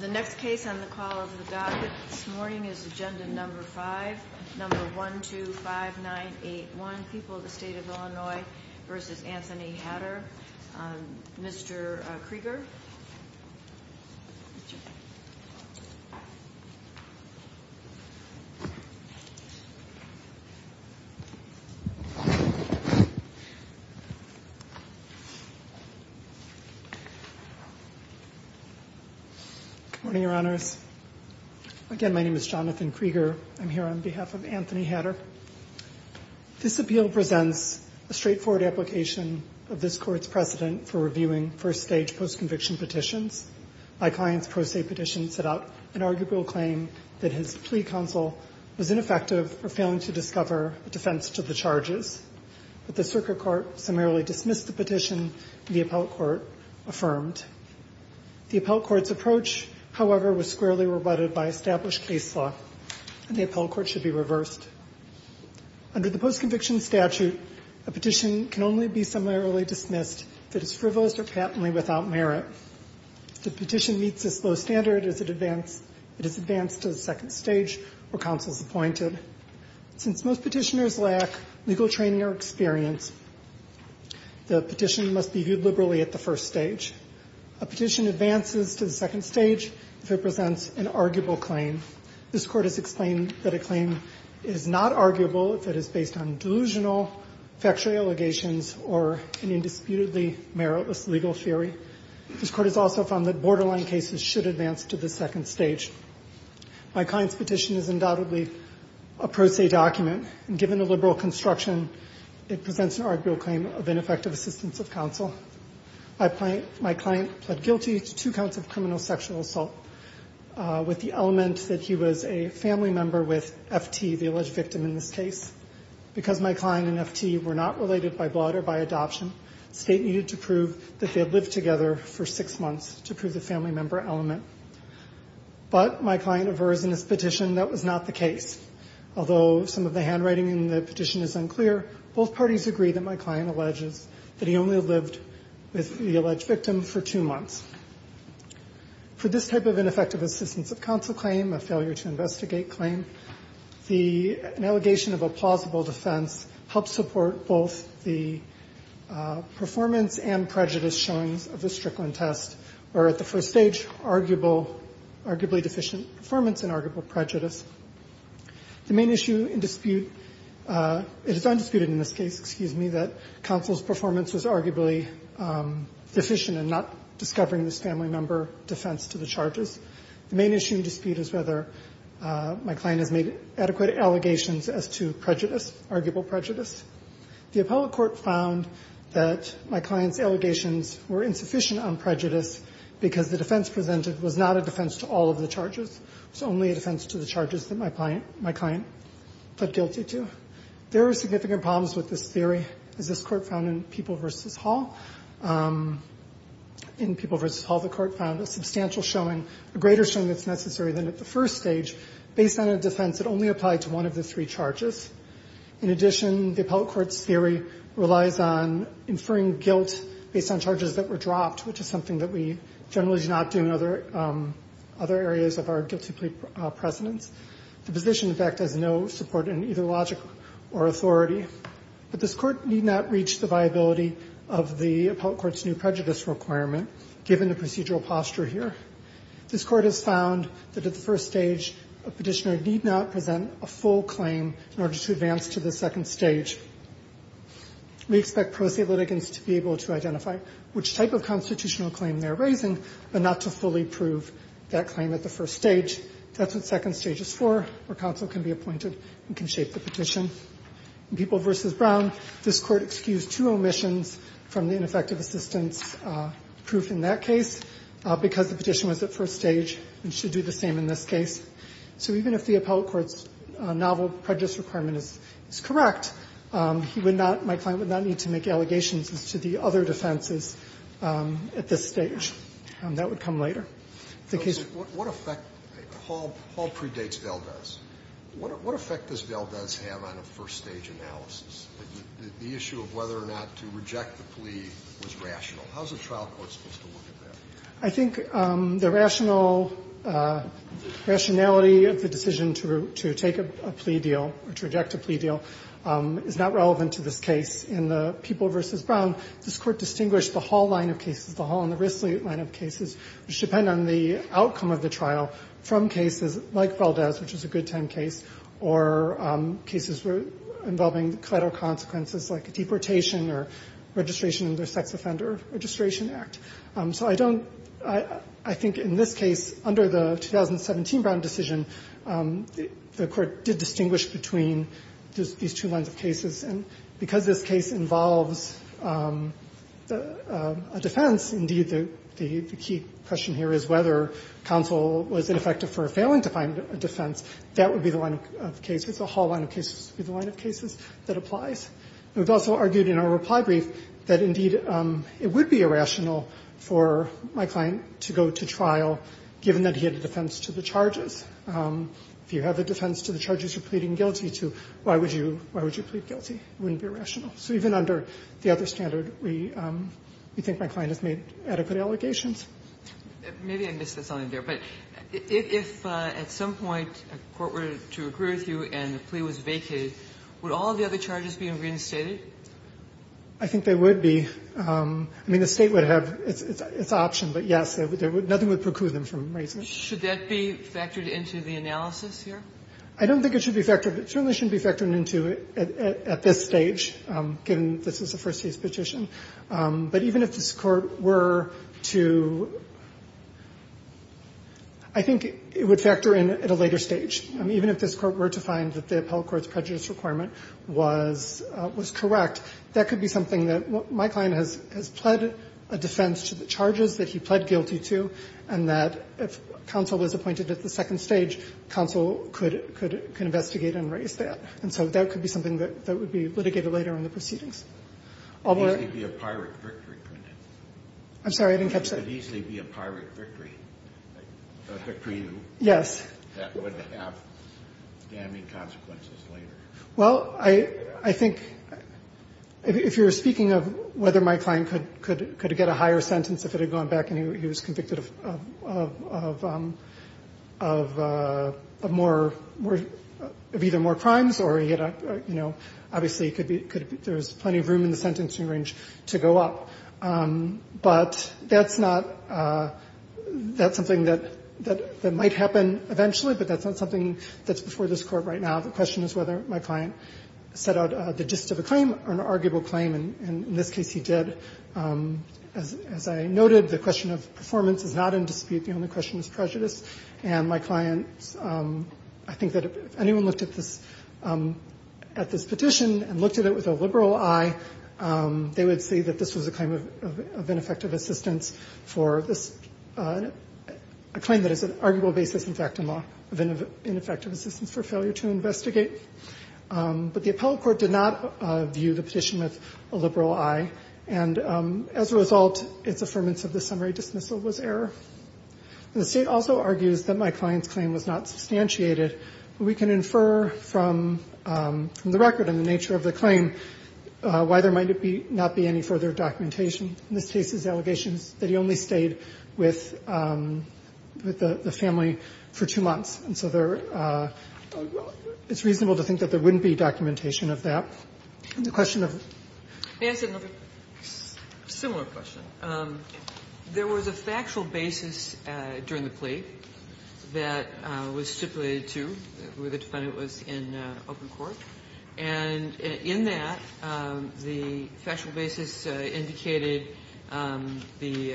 The next case on the call of the docket this morning is agenda number 5, number 125981, People of the State of Illinois v. Anthony Hatter. Mr. Krieger. Good morning, Your Honors. Again, my name is Jonathan Krieger. I'm here on behalf of Anthony Hatter. This appeal presents a straightforward application of this Court's precedent for reviewing first-stage post-conviction petitions. My client's pro se petition set out an arguable claim that his plea counsel was ineffective for failing to discover a defense to the charges. But the circuit court summarily dismissed the petition, and the appellate court affirmed. The appellate court's approach, however, was squarely rebutted by established case law, and the appellate court should be reversed. Under the post-conviction statute, a petition can only be summarily dismissed if it is frivolous or patently without merit. If the petition meets this low standard, it is advanced to the second stage where counsel is appointed. Since most petitioners lack legal training or experience, the petition must be viewed liberally at the first stage. A petition advances to the second stage if it presents an arguable claim. This Court has explained that a claim is not arguable if it is based on delusional factual allegations or an indisputably meritless legal theory. This Court has also found that borderline cases should advance to the second stage. My client's petition is undoubtedly a pro se document, and given the liberal construction, it presents an arguable claim of ineffective assistance of counsel. My client pled guilty to two counts of criminal sexual assault with the element that he was a family member with F.T., the alleged victim in this case. Because my client and F.T. were not related by blood or by adoption, state needed to prove that they had lived together for six months to prove the family member element. But my client averts in his petition that was not the case. Although some of the handwriting in the petition is unclear, both parties agree that my client alleges that he only lived with the alleged victim for two months. For this type of ineffective assistance of counsel claim, a failure to investigate claim, the allegation of a plausible defense helps support both the performance and prejudice showings of the Strickland test, where at the first stage, arguable, arguably deficient performance and arguable prejudice. The main issue in dispute, it is undisputed in this case, excuse me, that counsel's performance was arguably deficient in not discovering this family member defense to the charges. The main issue in dispute is whether my client has made adequate allegations as to prejudice, arguable prejudice. The appellate court found that my client's allegations were insufficient on prejudice because the defense presented was not a defense to all of the charges. It was only a defense to the charges that my client pled guilty to. There are significant problems with this theory, as this Court found in People v. Hall. In People v. Hall, the Court found a substantial showing, a greater showing that's necessary than at the first stage, based on a defense that only applied to one of the three charges. In addition, the appellate court's theory relies on inferring guilt based on charges that were dropped, which is something that we generally do not do in other areas of our guilty plea precedence. The position, in fact, has no support in either logic or authority. But this Court need not reach the viability of the appellate court's new prejudice requirement, given the procedural posture here. This Court has found that at the first stage, a petitioner need not present a full claim in order to advance to the second stage. We expect pro se litigants to be able to identify which type of constitutional claim they're raising, but not to fully prove that claim at the first stage. That's what second stage is for, where counsel can be appointed and can shape the petition. In People v. Brown, this Court excused two omissions from the ineffective assistance proof in that case, because the petition was at first stage and should do the same in this case. So even if the appellate court's novel prejudice requirement is correct, he would not, my client would not need to make allegations as to the other defenses at this stage. That would come later. If the case was to be made later. What effect does Valdez have on a first stage analysis? The issue of whether or not to reject the plea was rational. How is the trial court supposed to look at that? I think the rationality of the decision to take a plea deal or to reject a plea deal is not relevant to this case. In the People v. Brown, this Court distinguished the Hall line of cases, the Hall and the Risley line of cases, which depend on the outcome of the trial from cases like Valdez, which is a good time case, or cases involving collateral consequences like a deportation or registration under the Sex Offender Registration Act. So I don't – I think in this case, under the 2017 Brown decision, the Court did distinguish between these two lines of cases. And because this case involves a defense, indeed, the key question here is whether counsel was ineffective for failing to find a defense. That would be the line of cases. The Hall line of cases would be the line of cases that applies. And we've also argued in our reply brief that, indeed, it would be irrational for my client to go to trial, given that he had a defense to the charges. If you have a defense to the charges you're pleading guilty to, why would you – why would you plead guilty? It wouldn't be rational. So even under the other standard, we think my client has made adequate allegations. Maybe I missed something there. But if at some point a court were to agree with you and the plea was vacated, would all of the other charges be reinstated? I think they would be. I mean, the State would have its option. But, yes, nothing would preclude them from raising it. Should that be factored into the analysis here? I don't think it should be factored. It certainly shouldn't be factored into it at this stage, given this is a first case petition. But even if this Court were to – I think it would factor in at a later stage. Even if this Court were to find that the appellate court's prejudice requirement was correct, that could be something that my client has pled a defense to the charges that he pled guilty to, and that if counsel was appointed at the second stage, counsel could investigate and raise that. And so that could be something that would be litigated later in the proceedings. It could easily be a pirate victory, couldn't it? I'm sorry. I didn't catch that. It could easily be a pirate victory for you. Yes. That would have damning consequences later. Well, I think if you're speaking of whether my client could get a higher sentence if it had gone back and he was convicted of more – of either more crimes or, you know, any room in the sentencing range to go up. But that's not – that's something that might happen eventually, but that's not something that's before this Court right now. The question is whether my client set out the gist of a claim or an arguable claim, and in this case he did. As I noted, the question of performance is not in dispute. The only question is prejudice. And my client, I think that if anyone looked at this – at this petition and looked at it with a liberal eye, they would see that this was a claim of ineffective assistance for this – a claim that is an arguable basis, in fact, in law, of ineffective assistance for failure to investigate. But the appellate court did not view the petition with a liberal eye, and as a result, its affirmance of the summary dismissal was error. And the State also argues that my client's claim was not substantiated. We can infer from the record and the nature of the claim why there might not be any further documentation. In this case, his allegation is that he only stayed with the family for two months, and so there – it's reasonable to think that there wouldn't be documentation of that. The question of – Can I ask another similar question? There was a factual basis during the plea that was stipulated, too, where the defendant was in open court. And in that, the factual basis indicated the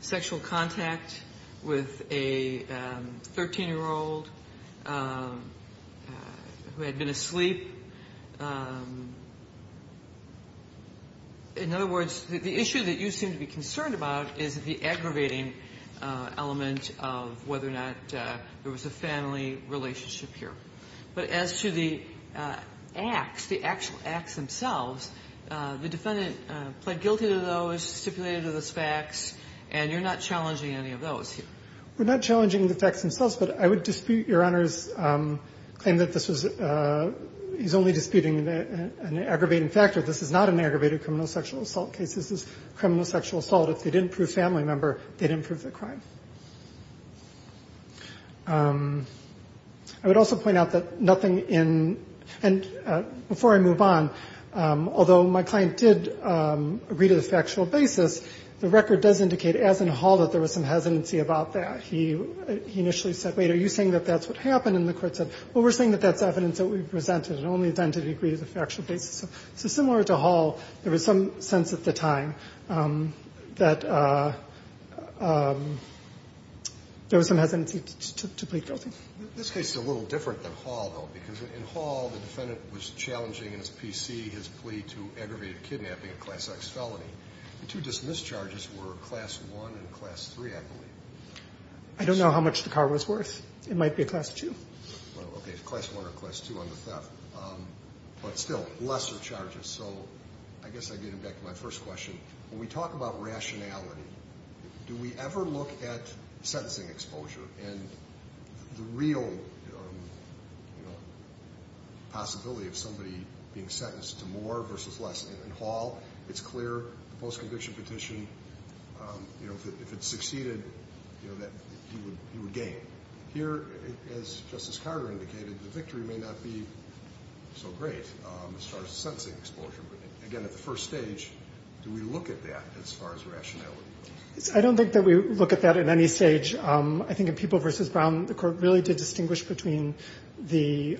sexual contact with a 13-year-old who had been asleep. In other words, the issue that you seem to be concerned about is the aggravating element of whether or not there was a family relationship here. But as to the acts, the actual acts themselves, the defendant pled guilty to those, stipulated those facts, and you're not challenging any of those here. We're not challenging the facts themselves, but I would dispute Your Honor's claim that this was – he's only disputing an aggravating factor. This is not an aggravated criminal sexual assault case. This is criminal sexual assault. If they didn't prove family member, they didn't prove the crime. I would also point out that nothing in – and before I move on, although my client did agree to the factual basis, the record does indicate, as in Hall, that there was some hesitancy about that. He initially said, wait, are you saying that that's what happened? And the court said, well, we're saying that that's evidence that we presented and only then did he agree to the factual basis. So similar to Hall, there was some sense at the time that there was some hesitancy to plead guilty. This case is a little different than Hall, though, because in Hall, the defendant was challenging in his PC his plea to aggravated kidnapping, a Class X felony. The two dismissed charges were Class I and Class III, I believe. I don't know how much the car was worth. It might be a Class II. Okay. Class I or Class II on the theft. But still, lesser charges. So I guess I get back to my first question. When we talk about rationality, do we ever look at sentencing exposure and the real possibility of somebody being sentenced to more versus less? In Hall, it's clear, the post-conviction petition, if it succeeded, that he would gain. Here, as Justice Carter indicated, the victory may not be so great as far as the sentencing exposure. But, again, at the first stage, do we look at that as far as rationality? I don't think that we look at that at any stage. I think in People v. Brown, the court really did distinguish between the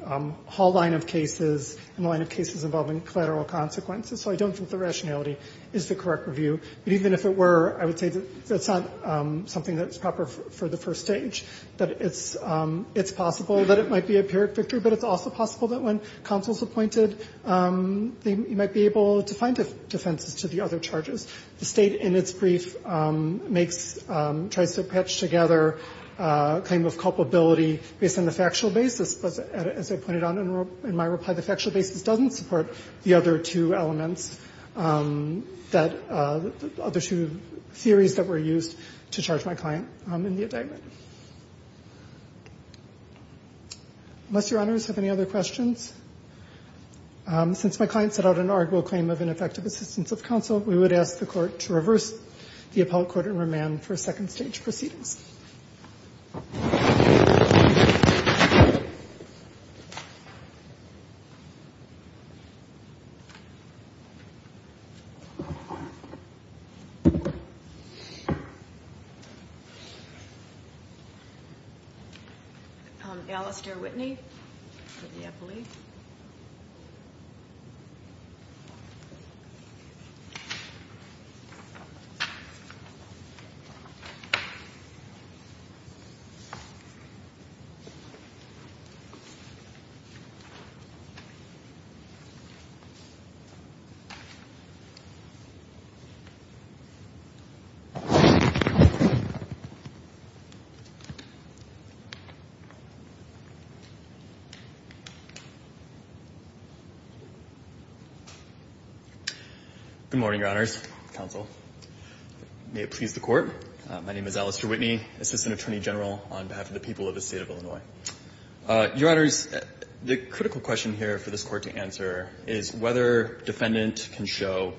Hall line of cases and the line of cases involving collateral consequences. So I don't think the rationality is the correct review. But even if it were, I would say that's not something that's proper for the first stage. It's possible that it might be a pyrrhic victory, but it's also possible that when counsel is appointed, they might be able to find defenses to the other charges. The State, in its brief, tries to patch together a claim of culpability based on the factual basis. But, as I pointed out in my reply, the factual basis doesn't support the other two elements that the other two theories that were used to charge my client in the indictment. Unless Your Honors have any other questions, since my client set out an arguable claim of ineffective assistance of counsel, we would ask the Court to reverse the appellate court and remand for second stage proceedings. Alistair Whitney for the appellate. Good morning, Your Honors, counsel. May it please the Court. My name is Alistair Whitney, Assistant Attorney General on behalf of the people of the State of Illinois. Your Honors, the critical question here for this Court to answer is whether defendant can show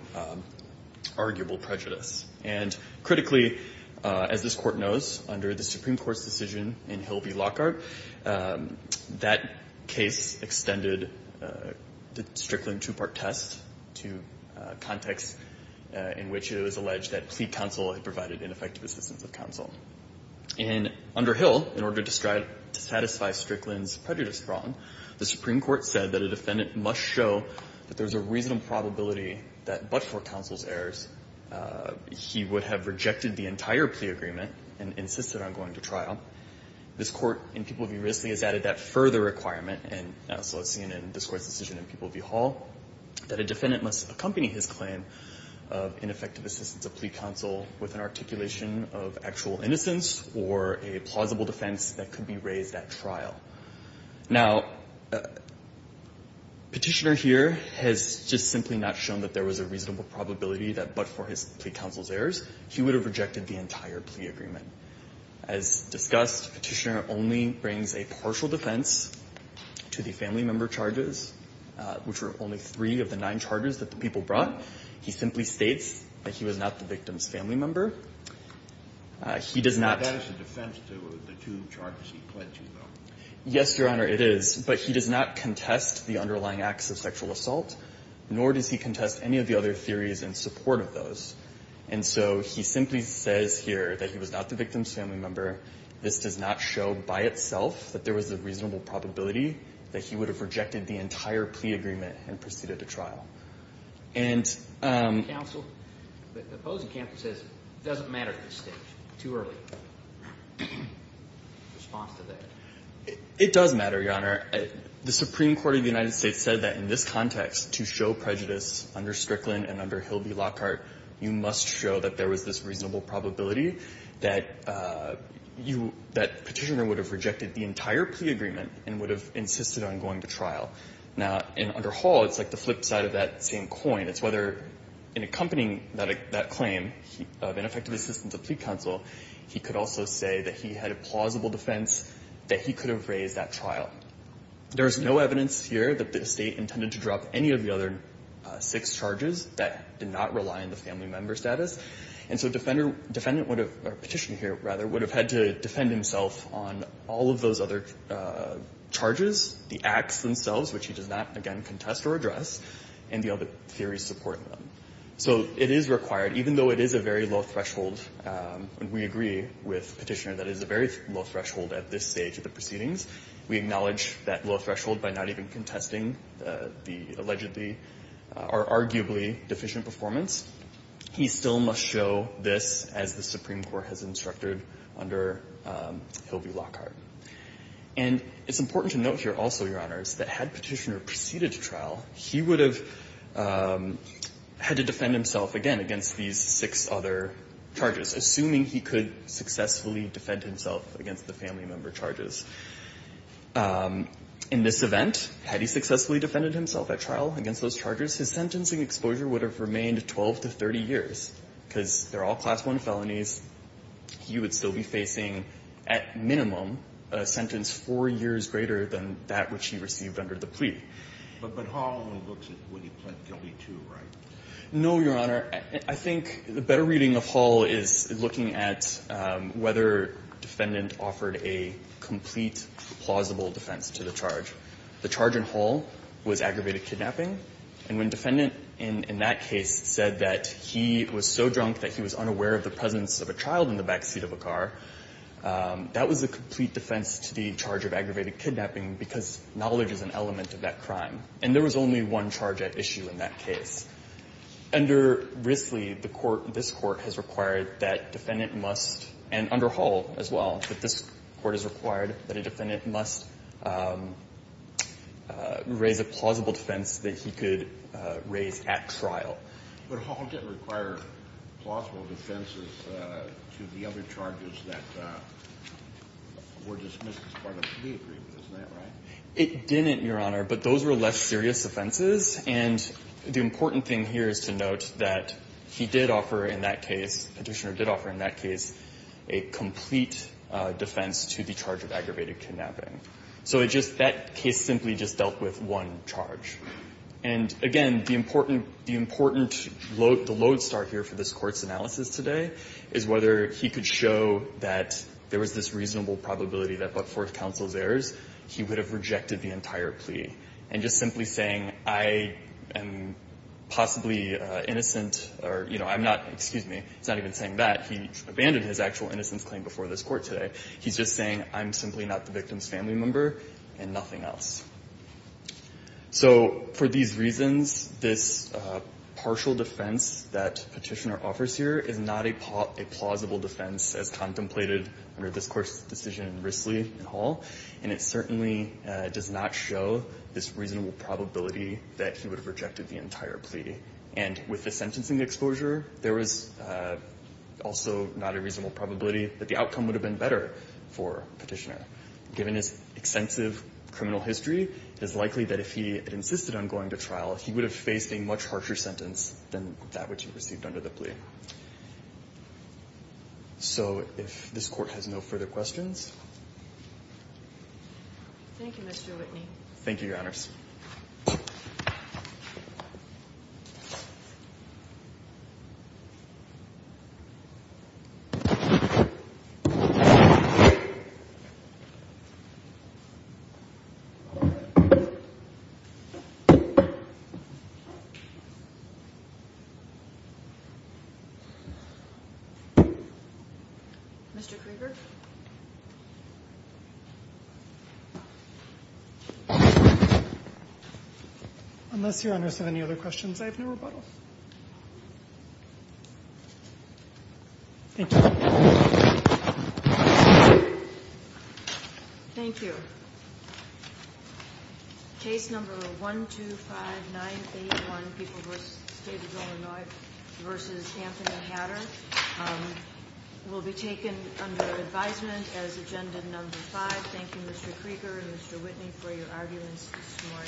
arguable prejudice. And critically, as this Court knows, under the Supreme Court's decision in Hill v. Lockhart, that case extended the Strickland two-part test to context in which it was And under Hill, in order to satisfy Strickland's prejudice wrong, the Supreme Court said that a defendant must show that there's a reasonable probability that but for counsel's errors, he would have rejected the entire plea agreement and insisted on going to trial. This Court in People v. Risley has added that further requirement, and so it's seen in this Court's decision in People v. Hall, that a defendant must accompany his claim of ineffective assistance of plea counsel with an articulation of actual innocence or a plausible defense that could be raised at trial. Now, Petitioner here has just simply not shown that there was a reasonable probability that but for his plea counsel's errors, he would have rejected the entire plea agreement. As discussed, Petitioner only brings a partial defense to the family member charges, which were only three of the nine charges that the people brought. He simply states that he was not the victim's family member. He does not ---- Kennedy, that is a defense to the two charges he pled to, though. Yes, Your Honor, it is. But he does not contest the underlying acts of sexual assault, nor does he contest any of the other theories in support of those. And so he simply says here that he was not the victim's family member. This does not show by itself that there was a reasonable probability that he would have rejected the entire plea agreement and proceeded to trial. And ---- Counsel, the opposing counsel says it doesn't matter at this stage. Too early. Response to that. It does matter, Your Honor. The Supreme Court of the United States said that in this context, to show prejudice under Strickland and under Hilby Lockhart, you must show that there was this reasonable probability that you ---- that Petitioner would have rejected the entire plea agreement and would have insisted on going to trial. Now, under Hall, it's like the flip side of that same coin. It's whether, in accompanying that claim of ineffective assistance of plea counsel, he could also say that he had a plausible defense, that he could have raised that trial. There is no evidence here that the State intended to drop any of the other six charges that did not rely on the family member status. And so Defendant would have ---- or Petitioner here, rather, would have had to defend himself on all of those other charges, the acts themselves, which he does not, again, contest or address, and the other theories supporting them. So it is required, even though it is a very low threshold. We agree with Petitioner that it is a very low threshold at this stage of the proceedings. We acknowledge that low threshold by not even contesting the allegedly or arguably deficient performance. He still must show this as the Supreme Court has instructed under Hill v. Lockhart. And it's important to note here also, Your Honors, that had Petitioner proceeded to trial, he would have had to defend himself again against these six other charges, assuming he could successfully defend himself against the family member charges. In this event, had he successfully defended himself at trial against those charges, his sentencing exposure would have remained 12 to 30 years, because they're all Class I felonies. He would still be facing, at minimum, a sentence 4 years greater than that which he received under the plea. But Hall looks at what he pled guilty to, right? No, Your Honor. I think the better reading of Hall is looking at whether Defendant offered a complete, plausible defense to the charge. The charge in Hall was aggravated kidnapping. And when Defendant in that case said that he was so drunk that he was unaware of the presence of a child in the back seat of a car, that was a complete defense to the charge of aggravated kidnapping, because knowledge is an element of that crime. And there was only one charge at issue in that case. Under Risley, the Court, this Court has required that Defendant must, and under Hall as well, that this Court has required that a Defendant must raise a plausible defense that he could raise at trial. But Hall didn't require plausible defenses to the other charges that were dismissed as part of the plea agreement. Isn't that right? It didn't, Your Honor. But those were less serious offenses. And the important thing here is to note that he did offer in that case, Petitioner did offer in that case a complete defense to the charge of aggravated kidnapping. So it just, that case simply just dealt with one charge. And again, the important, the important load, the load start here for this Court's analysis today is whether he could show that there was this reasonable probability that but for counsel's errors, he would have rejected the entire plea. And just simply saying I am possibly innocent or, you know, I'm not, excuse me, it's not even saying that. He abandoned his actual innocence claim before this Court today. He's just saying I'm simply not the victim's family member and nothing else. So for these reasons, this partial defense that Petitioner offers here is not a plausible defense as contemplated under this Court's decision in Risley and Hall. And it certainly does not show this reasonable probability that he would have rejected the entire plea. And with the sentencing exposure, there was also not a reasonable probability that the outcome would have been better for Petitioner. Given his extensive criminal history, it is likely that if he had insisted on going to trial, he would have faced a much harsher sentence than that which he received under the plea. So if this Court has no further questions. Thank you, Mr. Whitney. Thank you, Your Honors. Mr. Krueger. Unless Your Honors have any other questions, I have no rebuttal. Thank you. Thank you. Case number 125981, People v. State of Illinois v. Anthony Hatter, will be taken under advisement as Agenda Number 5. Thank you, Mr. Krueger and Mr. Whitney, for your arguments this morning.